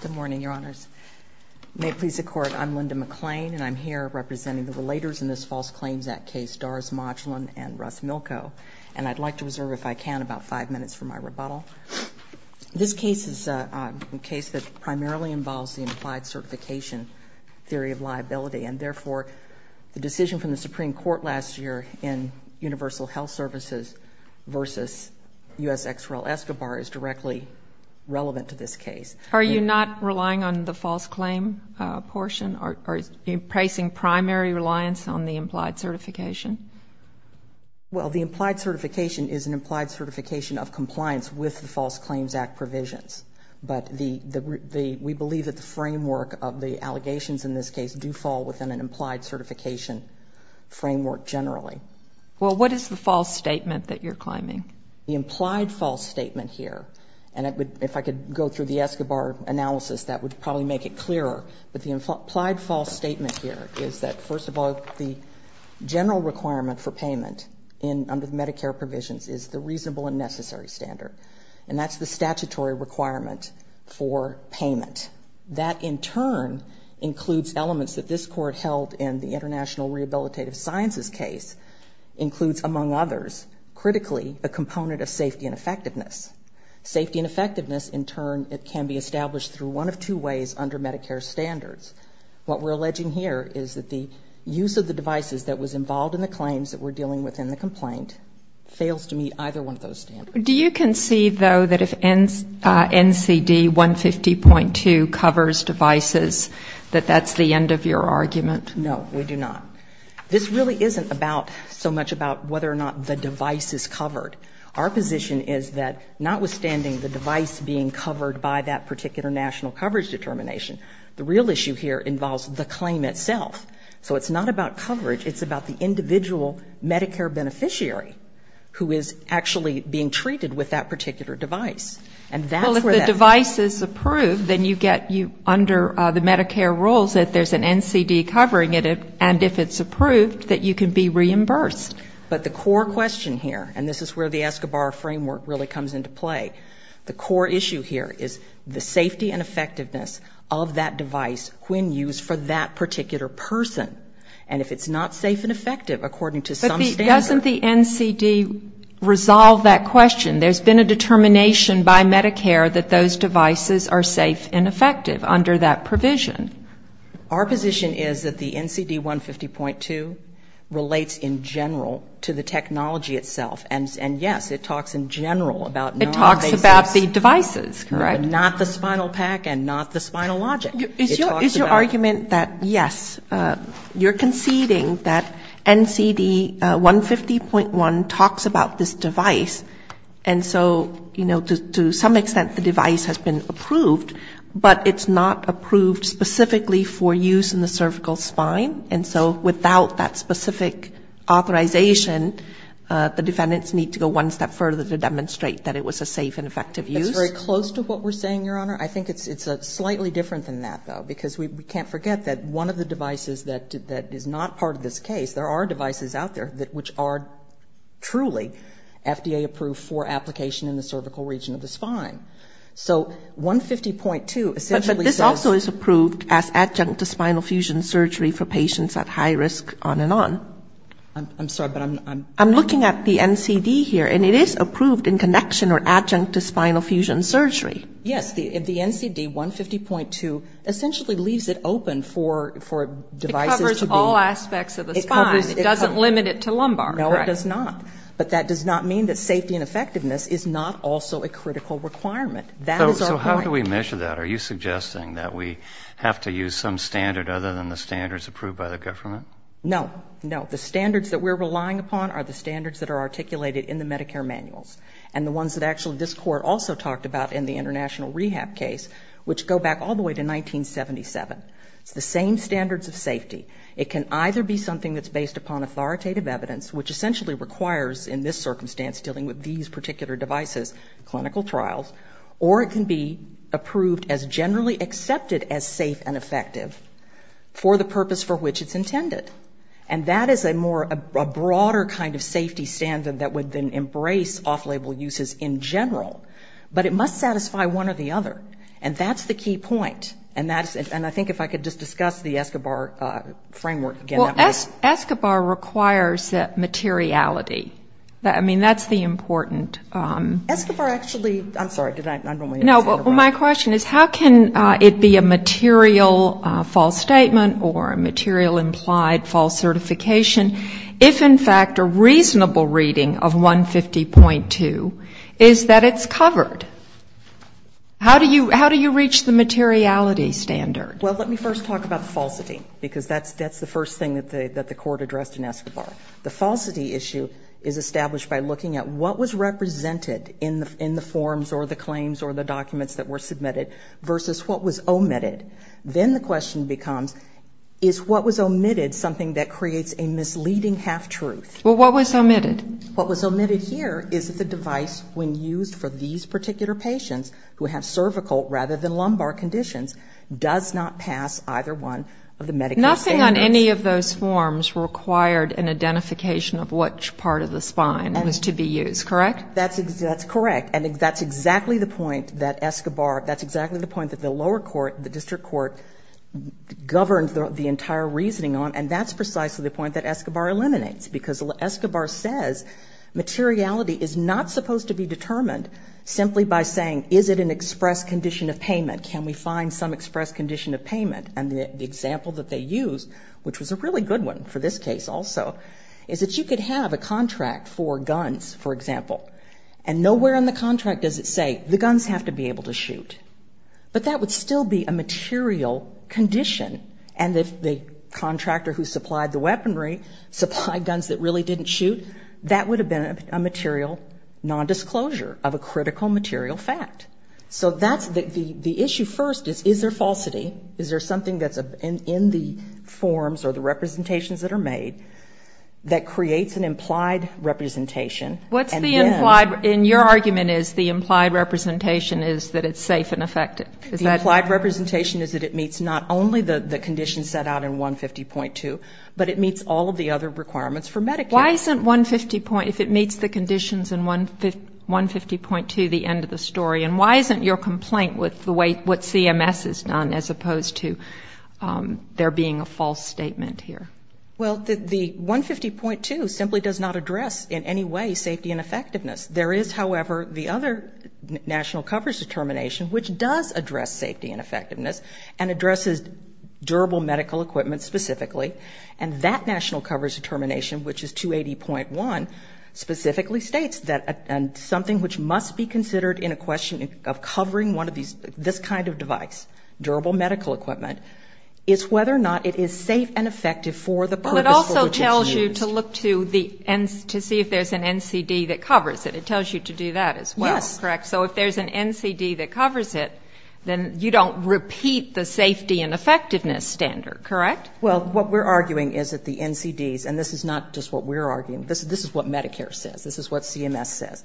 Good morning, Your Honors. May it please the Court, I'm Linda McClain and I'm here representing the relators in this False Claims Act case, Doris Modglin and Russ Milko, and I'd like to reserve, if I can, about five minutes for my rebuttal. This case is a case that primarily involves the implied certification theory of liability and therefore the decision from the Supreme Court last year in Universal Health Services versus U.S. ex rel. Escobar is directly relevant to this case. Are you not relying on the false claim portion or are you placing primary reliance on the implied certification? Well, the implied certification is an implied certification of compliance with the False Claims Act provisions, but we believe that the framework of the allegations in this case do fall within an implied certification framework generally. Well, what is the false statement that you're claiming? The Escobar analysis, that would probably make it clearer, but the implied false statement here is that, first of all, the general requirement for payment under Medicare provisions is the reasonable and necessary standard, and that's the statutory requirement for payment. That, in turn, includes elements that this Court held in the International Rehabilitative Sciences case includes, among others, critically, a component of safety and effectiveness. Safety and effectiveness can be established through one of two ways under Medicare standards. What we're alleging here is that the use of the devices that was involved in the claims that we're dealing with in the complaint fails to meet either one of those standards. Do you concede, though, that if NCD 150.2 covers devices, that that's the end of your argument? No, we do not. This really isn't about so much about whether or not the device is covered. Our position is that, notwithstanding the device being covered by that particular national coverage determination, the real issue here involves the claim itself. So it's not about coverage. It's about the individual Medicare beneficiary who is actually being treated with that particular device. And that's where that goes. Well, if the device is approved, then you get under the Medicare rules that there's an NCD covering it, and if it's approved, that you can be reimbursed. But the core question here, and this is where the Escobar framework really comes into play, the core issue here is the safety and effectiveness of that device when used for that particular person. And if it's not safe and effective according to some standard But doesn't the NCD resolve that question? There's been a determination by Medicare that those devices are safe and effective under that provision. Our position is that the NCD 150.2 relates in general to the technology itself. And yes, it talks in general about It talks about the devices, correct? Not the spinal pack and not the spinal logic. Is your argument that, yes, you're conceding that NCD 150.1 talks about this device and so, you know, to some extent the device has been approved, but it's not approved specifically for use in the cervical spine, and so without that specific authorization, the defendants need to go one step further to demonstrate that it was a safe and effective use? That's very close to what we're saying, Your Honor. I think it's slightly different than that, though, because we can't forget that one of the devices that is not part of this case, there are devices out there which are truly FDA-approved for application in the cervical region of the spine. So 150.2 essentially says But this also is approved as adjunct to spinal fusion surgery for patients at high risk, on and on. I'm sorry, but I'm I'm looking at the NCD here, and it is approved in connection or adjunct to spinal fusion surgery. Yes. The NCD 150.2 essentially leaves it open for devices to be It covers all aspects of the spine. It doesn't limit it to lumbar, correct? No, it does not. But that does not mean that safety and effectiveness is not also a critical requirement. That is our point. In addition to that, are you suggesting that we have to use some standard other than the standards approved by the government? No. No. The standards that we're relying upon are the standards that are articulated in the Medicare manuals, and the ones that actually this Court also talked about in the international rehab case, which go back all the way to 1977. It's the same standards of safety. It can either be something that's based upon authoritative evidence, which essentially requires in this circumstance dealing with these particular devices, clinical trials, or it can be approved as generally accepted as safe and effective for the purpose for which it's intended. And that is a more, a broader kind of safety standard that would then embrace off-label uses in general. But it must satisfy one or the other. And that's the key point. And that's, and I think if I could just discuss the ESCOBAR framework again. ESCOBAR requires that materiality. I mean, that's the important. ESCOBAR actually, I'm sorry, did I, I don't want to interrupt. No, but my question is how can it be a material false statement or a material implied false certification, if in fact a reasonable reading of 150.2 is that it's covered? How do you, how do you reach the materiality standard? Well, let me first talk about the falsity, because that's, that's the first thing that the, that the court addressed in ESCOBAR. The falsity issue is established by looking at what was represented in the, in the forms or the claims or the documents that were submitted versus what was omitted. Then the question becomes, is what was omitted something that creates a misleading half-truth? Well, what was omitted? What was omitted here is that the device, when used for these particular patients who have cervical rather than lumbar conditions, does not pass either one of the medical standards. But nothing on any of those forms required an identification of which part of the spine was to be used, correct? That's, that's correct. And that's exactly the point that ESCOBAR, that's exactly the point that the lower court, the district court governed the entire reasoning on. And that's precisely the point that ESCOBAR eliminates, because ESCOBAR says materiality is not supposed to be determined simply by saying, is it an express condition of payment? Can we find some express condition of use, which was a really good one for this case also, is that you could have a contract for guns, for example, and nowhere in the contract does it say the guns have to be able to shoot. But that would still be a material condition. And if the contractor who supplied the weaponry supplied guns that really didn't shoot, that would have been a material nondisclosure of a critical material fact. So that's the, the, the issue first is, is there falsity? Is there something that's in the forms or the representations that are made that creates an implied representation? What's the implied? And your argument is the implied representation is that it's safe and effective. Is that? The implied representation is that it meets not only the, the conditions set out in 150.2, but it meets all of the other requirements for Medicare. Why isn't 150 point, if it meets the conditions in 150.2, the end of the story? And why isn't your complaint with the way, what CMS has done as opposed to there being a false statement here? Well, the, the 150.2 simply does not address in any way safety and effectiveness. There is, however, the other national coverage determination which does address safety and effectiveness and addresses durable medical equipment specifically. And that national coverage determination, which is 280.1, specifically states that, and something which must be considered in a question of covering one of these, this kind of device, durable medical equipment, is whether or not it is safe and effective for the purpose for which it's used. But it also tells you to look to the, to see if there's an NCD that covers it. It tells you to do that as well. Yes. Correct? So if there's an NCD that covers it, then you don't repeat the safety and effectiveness standard, correct? Well, what we're arguing is that the NCDs, and this is not just what we're saying, this is what CMS says,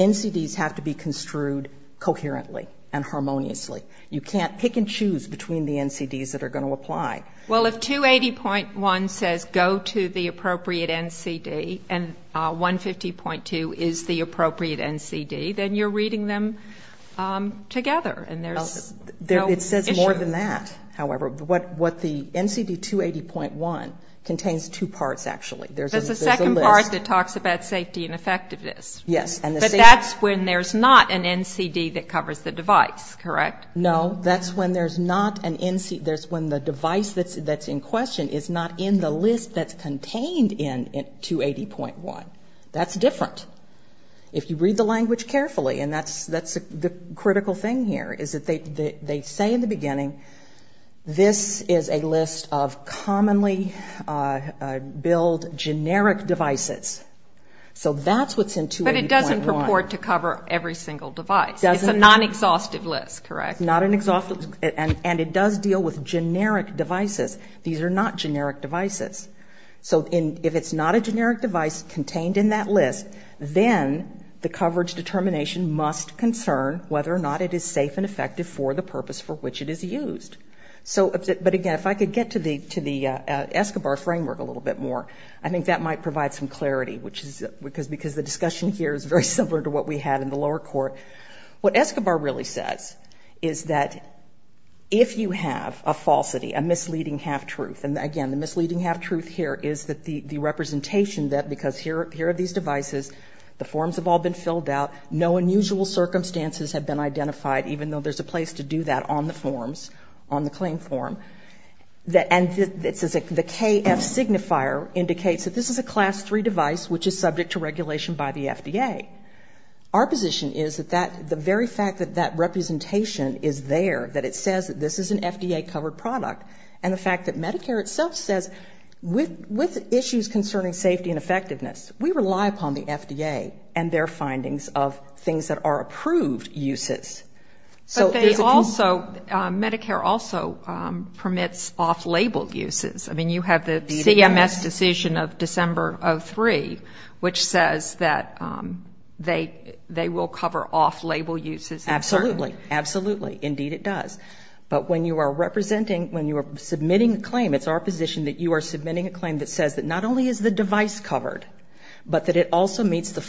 NCDs have to be construed coherently and harmoniously. You can't pick and choose between the NCDs that are going to apply. Well, if 280.1 says go to the appropriate NCD and 150.2 is the appropriate NCD, then you're reading them together and there's no issue. It says more than that, however. What the NCD 280.1 contains two parts, actually. There's a second part that talks about safety and effectiveness. Yes. But that's when there's not an NCD that covers the device, correct? No, that's when there's not an NCD, that's when the device that's in question is not in the list that's contained in 280.1. That's different. If you read the language carefully, and that's the critical thing here, is that they say in the generic devices. So that's what's in 280.1. But it doesn't purport to cover every single device. It's a non-exhaustive list, correct? Not an exhaustive list, and it does deal with generic devices. These are not generic devices. So if it's not a generic device contained in that list, then the coverage determination must concern whether or not it is safe and effective for the purpose for which it is used. But again, if I could get to the Escobar framework a little bit more, I think that might provide some clarity, because the discussion here is very similar to what we had in the lower court. What Escobar really says is that if you have a falsity, a misleading half-truth, and again, the misleading half-truth here is that the representation that, because here are these devices, the forms have all been filled out, no unusual circumstances have been identified, even though there's a place to do that on the forms, on the claim form. And the KF signifier indicates that this is a Class 3 device which is subject to regulation by the FDA. Our position is that the very fact that that representation is there, that it says that this is an FDA-covered product, and the fact that Medicare itself says, with issues concerning safety and effectiveness, we rely upon the FDA and their findings of things that are approved uses. But they also, Medicare also permits off-label uses. I mean, you have the CMS decision of December of 3, which says that they will cover off-label uses. Absolutely. Absolutely. Indeed, it does. But when you are representing, when you are submitting a claim, it's our position that you are submitting a claim that says that not only is the device covered, but that it also meets the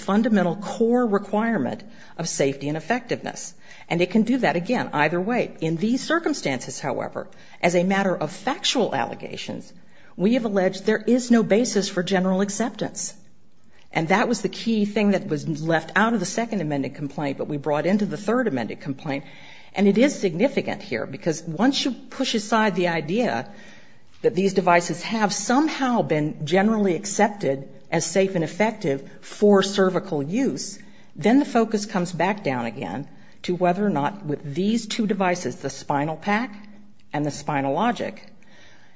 And it can do that, again, either way. In these circumstances, however, as a matter of factual allegations, we have alleged there is no basis for general acceptance. And that was the key thing that was left out of the Second Amendment complaint, but we brought into the Third Amendment complaint. And it is significant here, because once you push aside the idea that these devices have somehow been generally accepted as safe and effective for whether or not, with these two devices, the SpinalPak and the Spinalogic,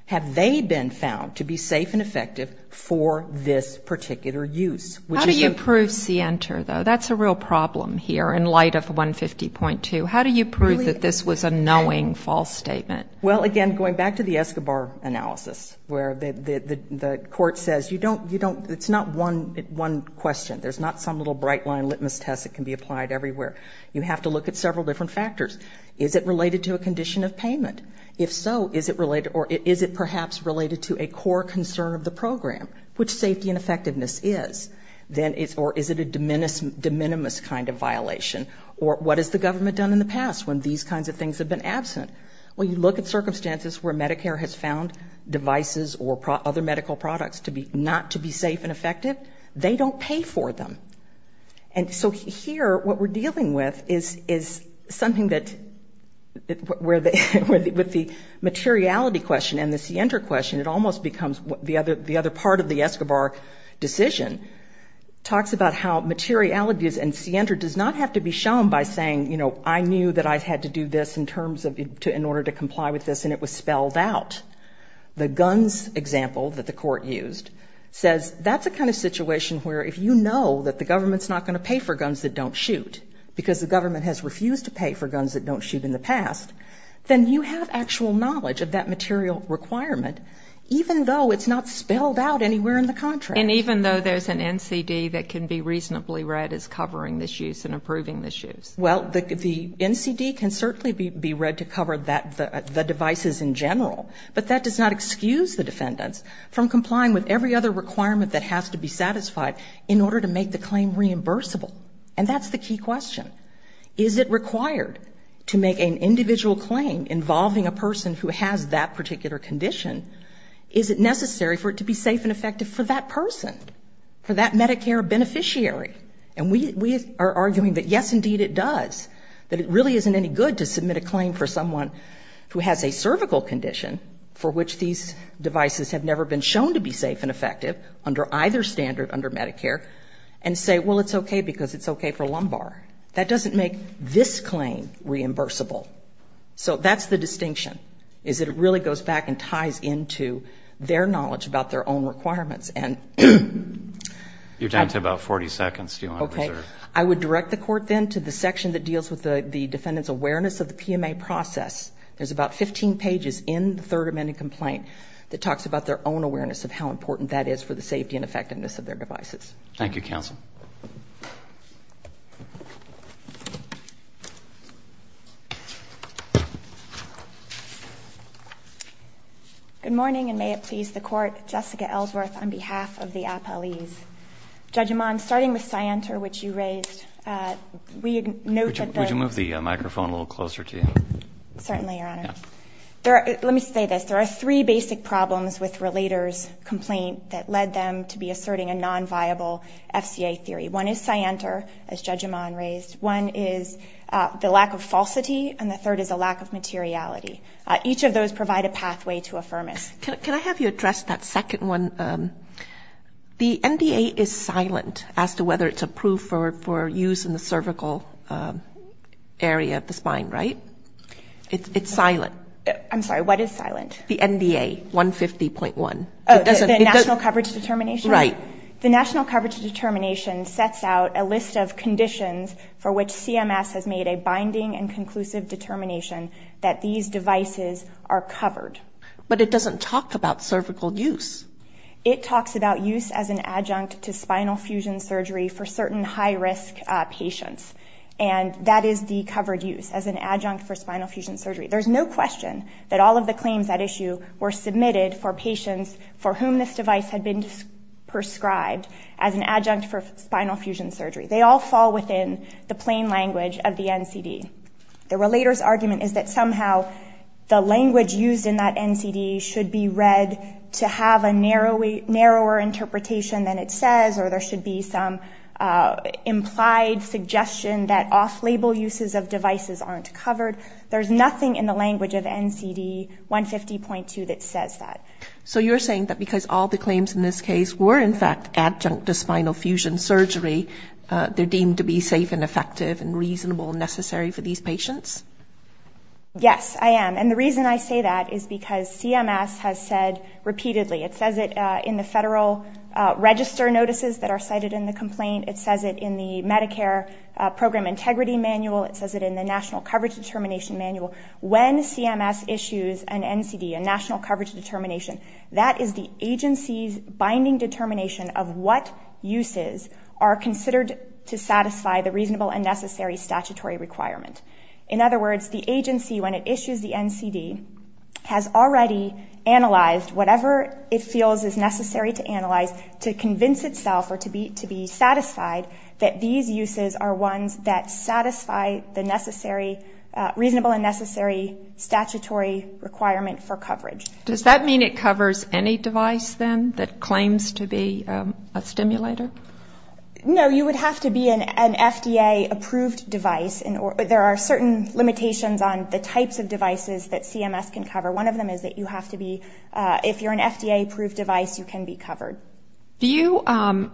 have they been found to be safe and effective for this particular use? How do you prove SIENTER, though? That's a real problem here, in light of 150.2. How do you prove that this was a knowing false statement? Well, again, going back to the Escobar analysis, where the court says, it's not one question. There's not some little bright-line litmus test that can be applied everywhere. You have to look at several different factors. Is it related to a condition of payment? If so, is it perhaps related to a core concern of the program? Which safety and effectiveness is? Or is it a de minimis kind of violation? Or what has the government done in the past when these kinds of things have been absent? When you look at circumstances where Medicare has found devices or other medical products not to be safe and effective, what we're dealing with is something that, with the materiality question and the SIENTER question, it almost becomes the other part of the Escobar decision, talks about how materiality and SIENTER does not have to be shown by saying, you know, I knew that I had to do this in terms of, in order to comply with this, and it was spelled out. The guns example that the court used says that's a kind of situation where if you know that the government's not going to pay for guns that don't shoot, because the government has refused to pay for guns that don't shoot in the past, then you have actual knowledge of that material requirement, even though it's not spelled out anywhere in the contract. And even though there's an NCD that can be reasonably read as covering this use and approving this use? Well, the NCD can certainly be read to cover the devices in general, but that does not excuse the defendants from complying with every other requirement that has to be satisfied in order to make the claim reimbursable. And that's the key question. Is it required to make an individual claim involving a person who has that particular condition? Is it necessary for it to be safe and effective for that person, for that Medicare beneficiary? And we are arguing that, yes, indeed it does, that it really isn't any good to submit a claim for someone who has a cervical condition for which these devices have never been shown to be safe and effective under either standard, under Medicare, and say, well, it's okay because it's okay for lumbar. That doesn't make this claim reimbursable. So that's the distinction, is that it really goes back and ties into their knowledge about their own requirements. You're down to about 40 seconds, do you want to preserve? I would direct the Court then to the section that deals with the defendant's awareness of the PMA process. There's about 15 pages in the Third Amendment complaint that talks about their own awareness of how important that is for the safety and effectiveness of their devices. Thank you, counsel. Good morning, and may it please the Court. Jessica Ellsworth on behalf of the appellees. Judge Amand, starting with Scienter, which you raised, we note that the Would you move the microphone a little closer to you? Certainly, Your Honor. Let me say this. There are three basic problems with Relator's complaint that led them to be asserting a non-viable FCA theory. One is Scienter, as Judge Amand raised. One is the lack of falsity, and the third is a lack of materiality. Each of those provide a pathway to affirmance. Can I have you address that second one? The NDA is silent as to whether it's approved for use in the cervical area of the spine, right? It's silent. I'm sorry, what is silent? The NDA, 150.1. Oh, the National Coverage Determination? Right. The National Coverage Determination sets out a list of conditions for which CMS has made a binding and conclusive determination that these devices are covered. But it doesn't talk about cervical use. It talks about use as an adjunct to spinal fusion surgery for certain high-risk patients, and that is the covered use, as an adjunct for spinal fusion surgery. There's no question that all of the claims at issue were submitted for patients for whom this device had been prescribed as an adjunct for spinal fusion surgery. They all fall within the plain language of the NCD. The Relator's argument is that somehow the language used in that NCD should be read to have a narrower interpretation than it says, or there should be some implied suggestion that off-label uses of devices aren't covered. There's nothing in the language of NCD 150.2 that says that. So you're saying that because all the claims in this case were, in fact, adjunct to spinal fusion surgery, they're deemed to be safe and effective and reasonable and necessary for these patients? Yes, I am. And the reason I say that is because CMS has said repeatedly. It says it in the Federal Register notices that are cited in the complaint. It says it in the Medicare Program Integrity Manual. It says it in the National Coverage Determination Manual. When CMS issues an NCD, a National Coverage Determination, that is the agency's binding determination of what uses are considered to satisfy the NCD. In other words, the agency, when it issues the NCD, has already analyzed whatever it feels is necessary to analyze to convince itself or to be satisfied that these uses are ones that satisfy the necessary, reasonable and necessary statutory requirement for coverage. Does that mean it covers any device, then, that claims to be a stimulator? No, you would have to be an FDA-approved device. There are certain limitations on the types of devices that CMS can cover. One of them is that you have to be, if you're an FDA-approved device, you can be covered. Do you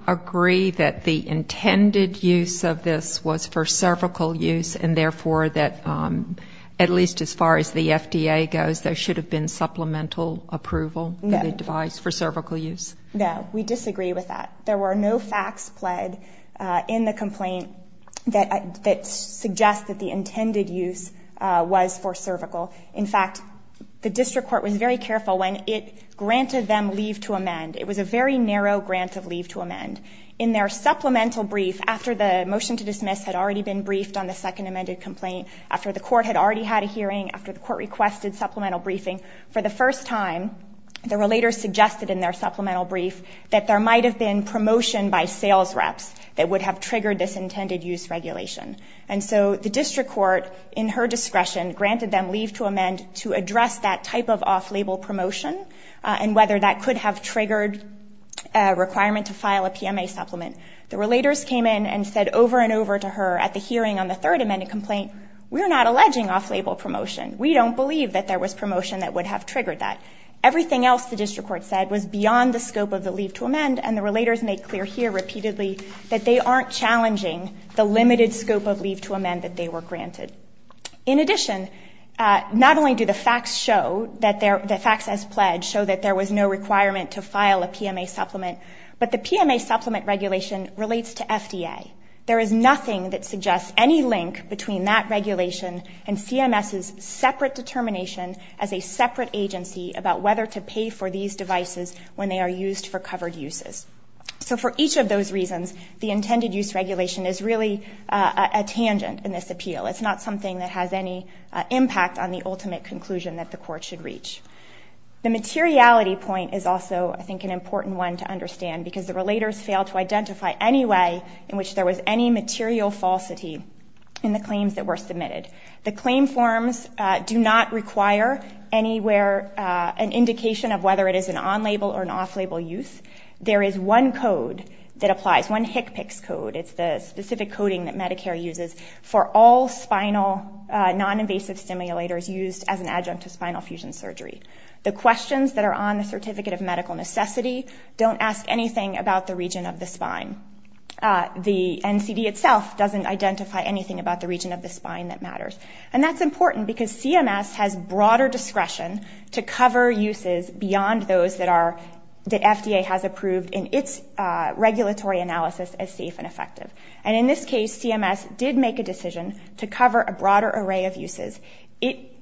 agree that the intended use of this was for cervical use and therefore that, at least as far as the FDA goes, there should have been supplemental approval for the device for cervical use? No, we disagree with that. There were no facts pled in the complaint that suggest that the intended use was for cervical. In fact, the district court was very careful when it granted them leave to amend. It was a very narrow grant of leave to amend. In their supplemental brief, after the motion to dismiss had already been briefed on the second amended complaint, after the court had already had a hearing, after the court requested supplemental briefing, for the first time, the relator suggested in their supplemental brief that there might have been promotion by sales reps that would have triggered this intended use regulation. And so the district court, in her discretion, granted them leave to amend to address that type of off-label promotion and whether that could have triggered a requirement to file a PMA supplement. The relators came in and said over and over to her at the hearing on the third amended complaint, we're not alleging off-label promotion. We don't believe that there was promotion that would have triggered that. Everything else the district court said was beyond the scope of the leave to amend, and the relators made clear here repeatedly that they aren't challenging the limited scope of leave to amend that they were granted. In addition, not only do the facts show, the facts as pledged show that there was no requirement to file a PMA supplement, but the PMA supplement regulation relates to FDA. There is nothing that suggests any link between that regulation and CMS's separate determination as a separate agency about whether to pay for these devices when they are used for covered uses. So for each of those reasons, the intended use regulation is really a tangent in this appeal. It's not something that has any impact on the ultimate conclusion that the court should reach. The materiality point is also, I think, an important one to understand because the relators failed to identify any way in which there was any material falsity in the claims that were submitted. The claim forms do not require anywhere an indication of whether it is an on-label or an off-label use. There is one code that applies, one HCPCS code. It's the specific coding that Medicare uses for all spinal non-invasive stimulators used as an adjunct to spinal fusion surgery. The questions that are on the Certificate of Medical Necessity don't ask anything about the region of the spine. The NCD itself doesn't identify anything about the region of the spine that matters. And that's important because CMS has broader discretion to cover uses beyond those that FDA has approved in its regulatory analysis as safe and effective. And in this case, CMS did make a decision to cover a broader array of uses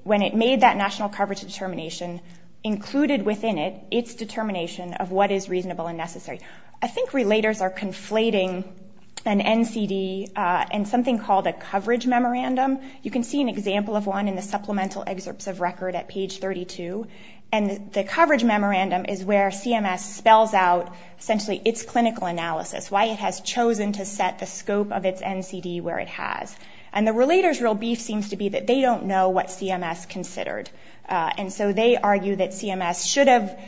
when it made that national coverage determination included within it its determination of what is reasonable and necessary. I think relators are conflating an NCD and something called a coverage memorandum. You can see an example of one in the supplemental excerpts of record at page 32. And the coverage memorandum is where CMS spells out essentially its clinical analysis, why it has chosen to set the scope of its NCD where it has. And the relator's real beef seems to be that they don't know what CMS considered. And so they argue that CMS should have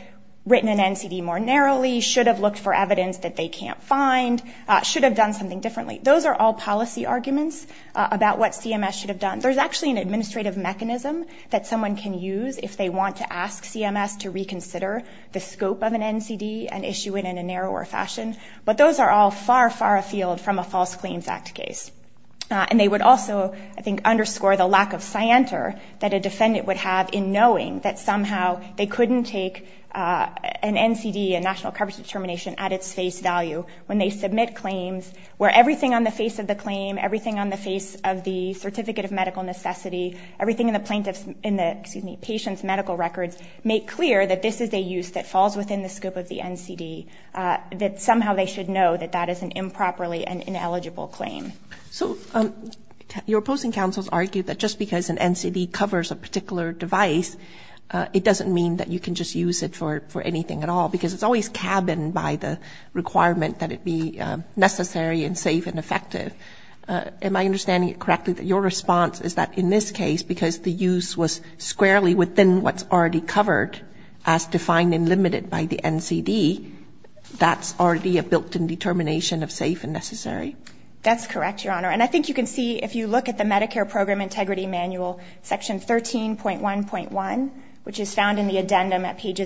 written an NCD more narrowly, should have looked for evidence that they can't find, should have done something differently. Those are all policy arguments about what CMS should have done. There's actually an administrative mechanism that someone can use if they want to ask CMS to reconsider the scope of an NCD and issue it in a narrower fashion. But those are all far, far afield from a false claims act case. And they would also, I think, underscore the lack of scienter that a defendant would have in knowing that somehow they couldn't take an NCD, a national coverage determination at its face value when they submit claims where everything on the face of the claim, everything on the face of the certificate of medical necessity, everything in the patient's medical records make clear that this is a use that falls within the scope of the NCD, that somehow they should know that that is an improperly and ineligible claim. So your opposing counsels argue that just because an NCD covers a particular device, it doesn't mean that you can just use it for anything at all because it's always cabined by the requirement that it be necessary and safe and effective. Am I understanding it correctly that your response is that in this case, because the use was squarely within what's already covered as defined and limited by the NCD, that's already a built-in determination of safe and necessary? That's correct, Your Honor. And I think you can see if you look at the Medicare Program Integrity Manual, Section 13.1.1, which is found in the NCD,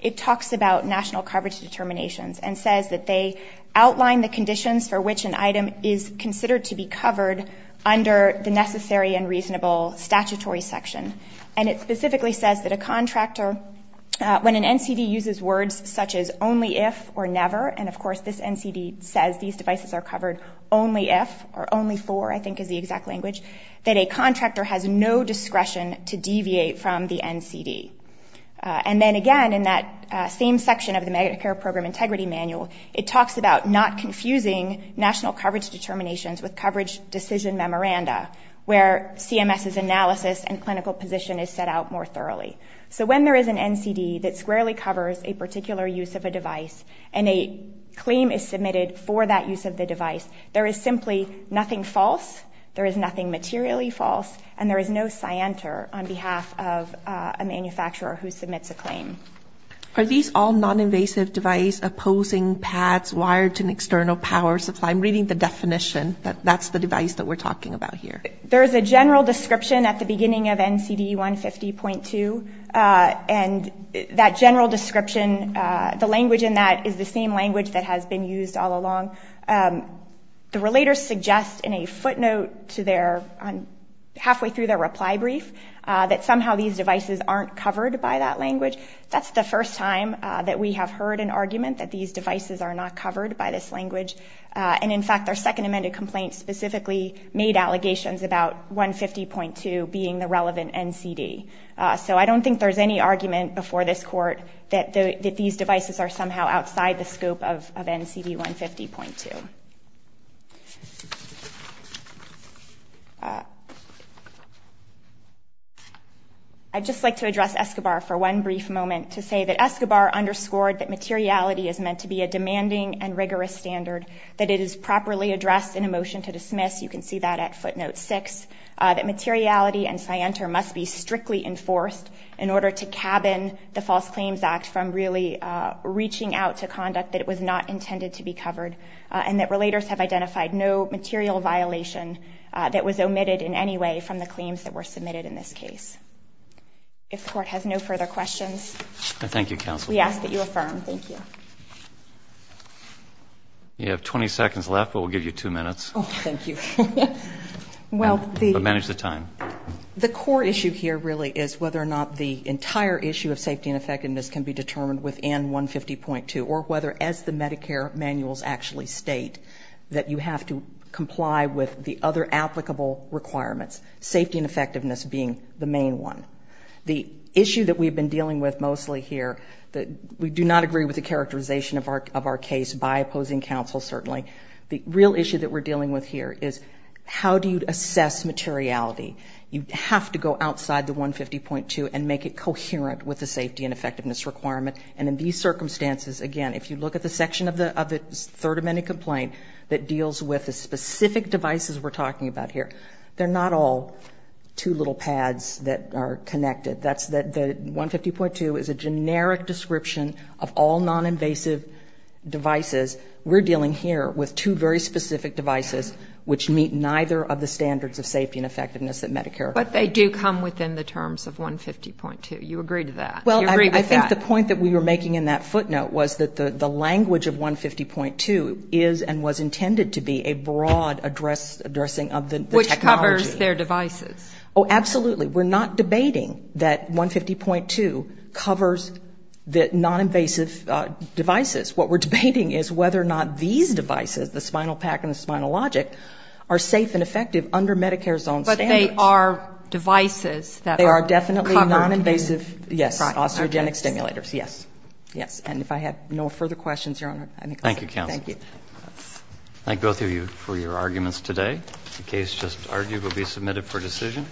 it talks about national coverage determinations and says that they outline the conditions for which an item is considered to be covered under the necessary and reasonable statutory section. And it specifically says that a contractor, when an NCD uses words such as only if or never, and of course this NCD says these devices are covered only if or only for, I think is the exact language, that a contractor has no discretion to deviate from the NCD. And then again in that same section of the Medicare Program Integrity Manual, it talks about not confusing national coverage determinations with coverage decision memoranda, where CMS's analysis and clinical position is set out more thoroughly. So when there is an NCD that squarely covers a particular use of a device and a claim is submitted for that use of the device, there is simply nothing false, there is nothing materially false, and there is no planter on behalf of a manufacturer who submits a claim. Are these all non-invasive device opposing pads wired to an external power supply? I'm reading the definition that that's the device that we're talking about here. There is a general description at the beginning of NCD 150.2, and that general description, the language in that is the same language that has been used all along. The relators suggest in a footnote to their, halfway through their reply brief, that somehow these devices aren't covered by that language. That's the first time that we have heard an argument that these devices are not covered by this language. And in fact, their second amended complaint specifically made allegations about 150.2 being the relevant NCD. So I don't think there's any argument before this Court that these devices are somehow outside the scope of NCD 150.2. I'd just like to address Escobar for one brief moment to say that Escobar underscored that materiality is meant to be a demanding and rigorous standard, that it is properly addressed in a motion to dismiss, you can see that at footnote six, that materiality and scienter must be strictly enforced in order to cabin the False Claims Act from really reaching out to conduct that was not intended to be covered, and that relators have identified no material violation that was omitted in any way from the claims that were submitted in this case. If the Court has no further questions, we ask that you affirm. You have 20 seconds left, but we'll give you two minutes. Manage the time. The core issue here really is whether or not the entire issue of safety and effectiveness can be determined within 150.2, or whether as the Medicare manuals actually state, that you have to comply with the other applicable requirements, safety and effectiveness being the main one. The issue that we've been dealing with mostly here, we do not agree with the characterization of our case by opposing counsel certainly, the real issue that we're dealing with here is how do you assess materiality? You have to go outside the 150.2 and make it coherent with the safety and effectiveness of the third amendment complaint that deals with the specific devices we're talking about here. They're not all two little pads that are connected. The 150.2 is a generic description of all non-invasive devices. We're dealing here with two very specific devices which meet neither of the standards of safety and effectiveness that Medicare provides. But they do come within the terms of 150.2. You agree with that? Well, I think the point that we were making in that footnote was that the language of 150.2 is and was intended to be a broad addressing of the technology. Which covers their devices. Oh, absolutely. We're not debating that 150.2 covers the non-invasive devices. What we're debating is whether or not these devices, the spinal pack and the spinal logic, are safe and effective under Medicare's own standards. But they are devices that are covered. They are definitely non-invasive. Yes. Osteogenic stimulators. Yes. Yes. And if I have no further questions, Your Honor. Thank you, counsel. Thank you. Thank both of you for your arguments today. The case just argued will be submitted for decision.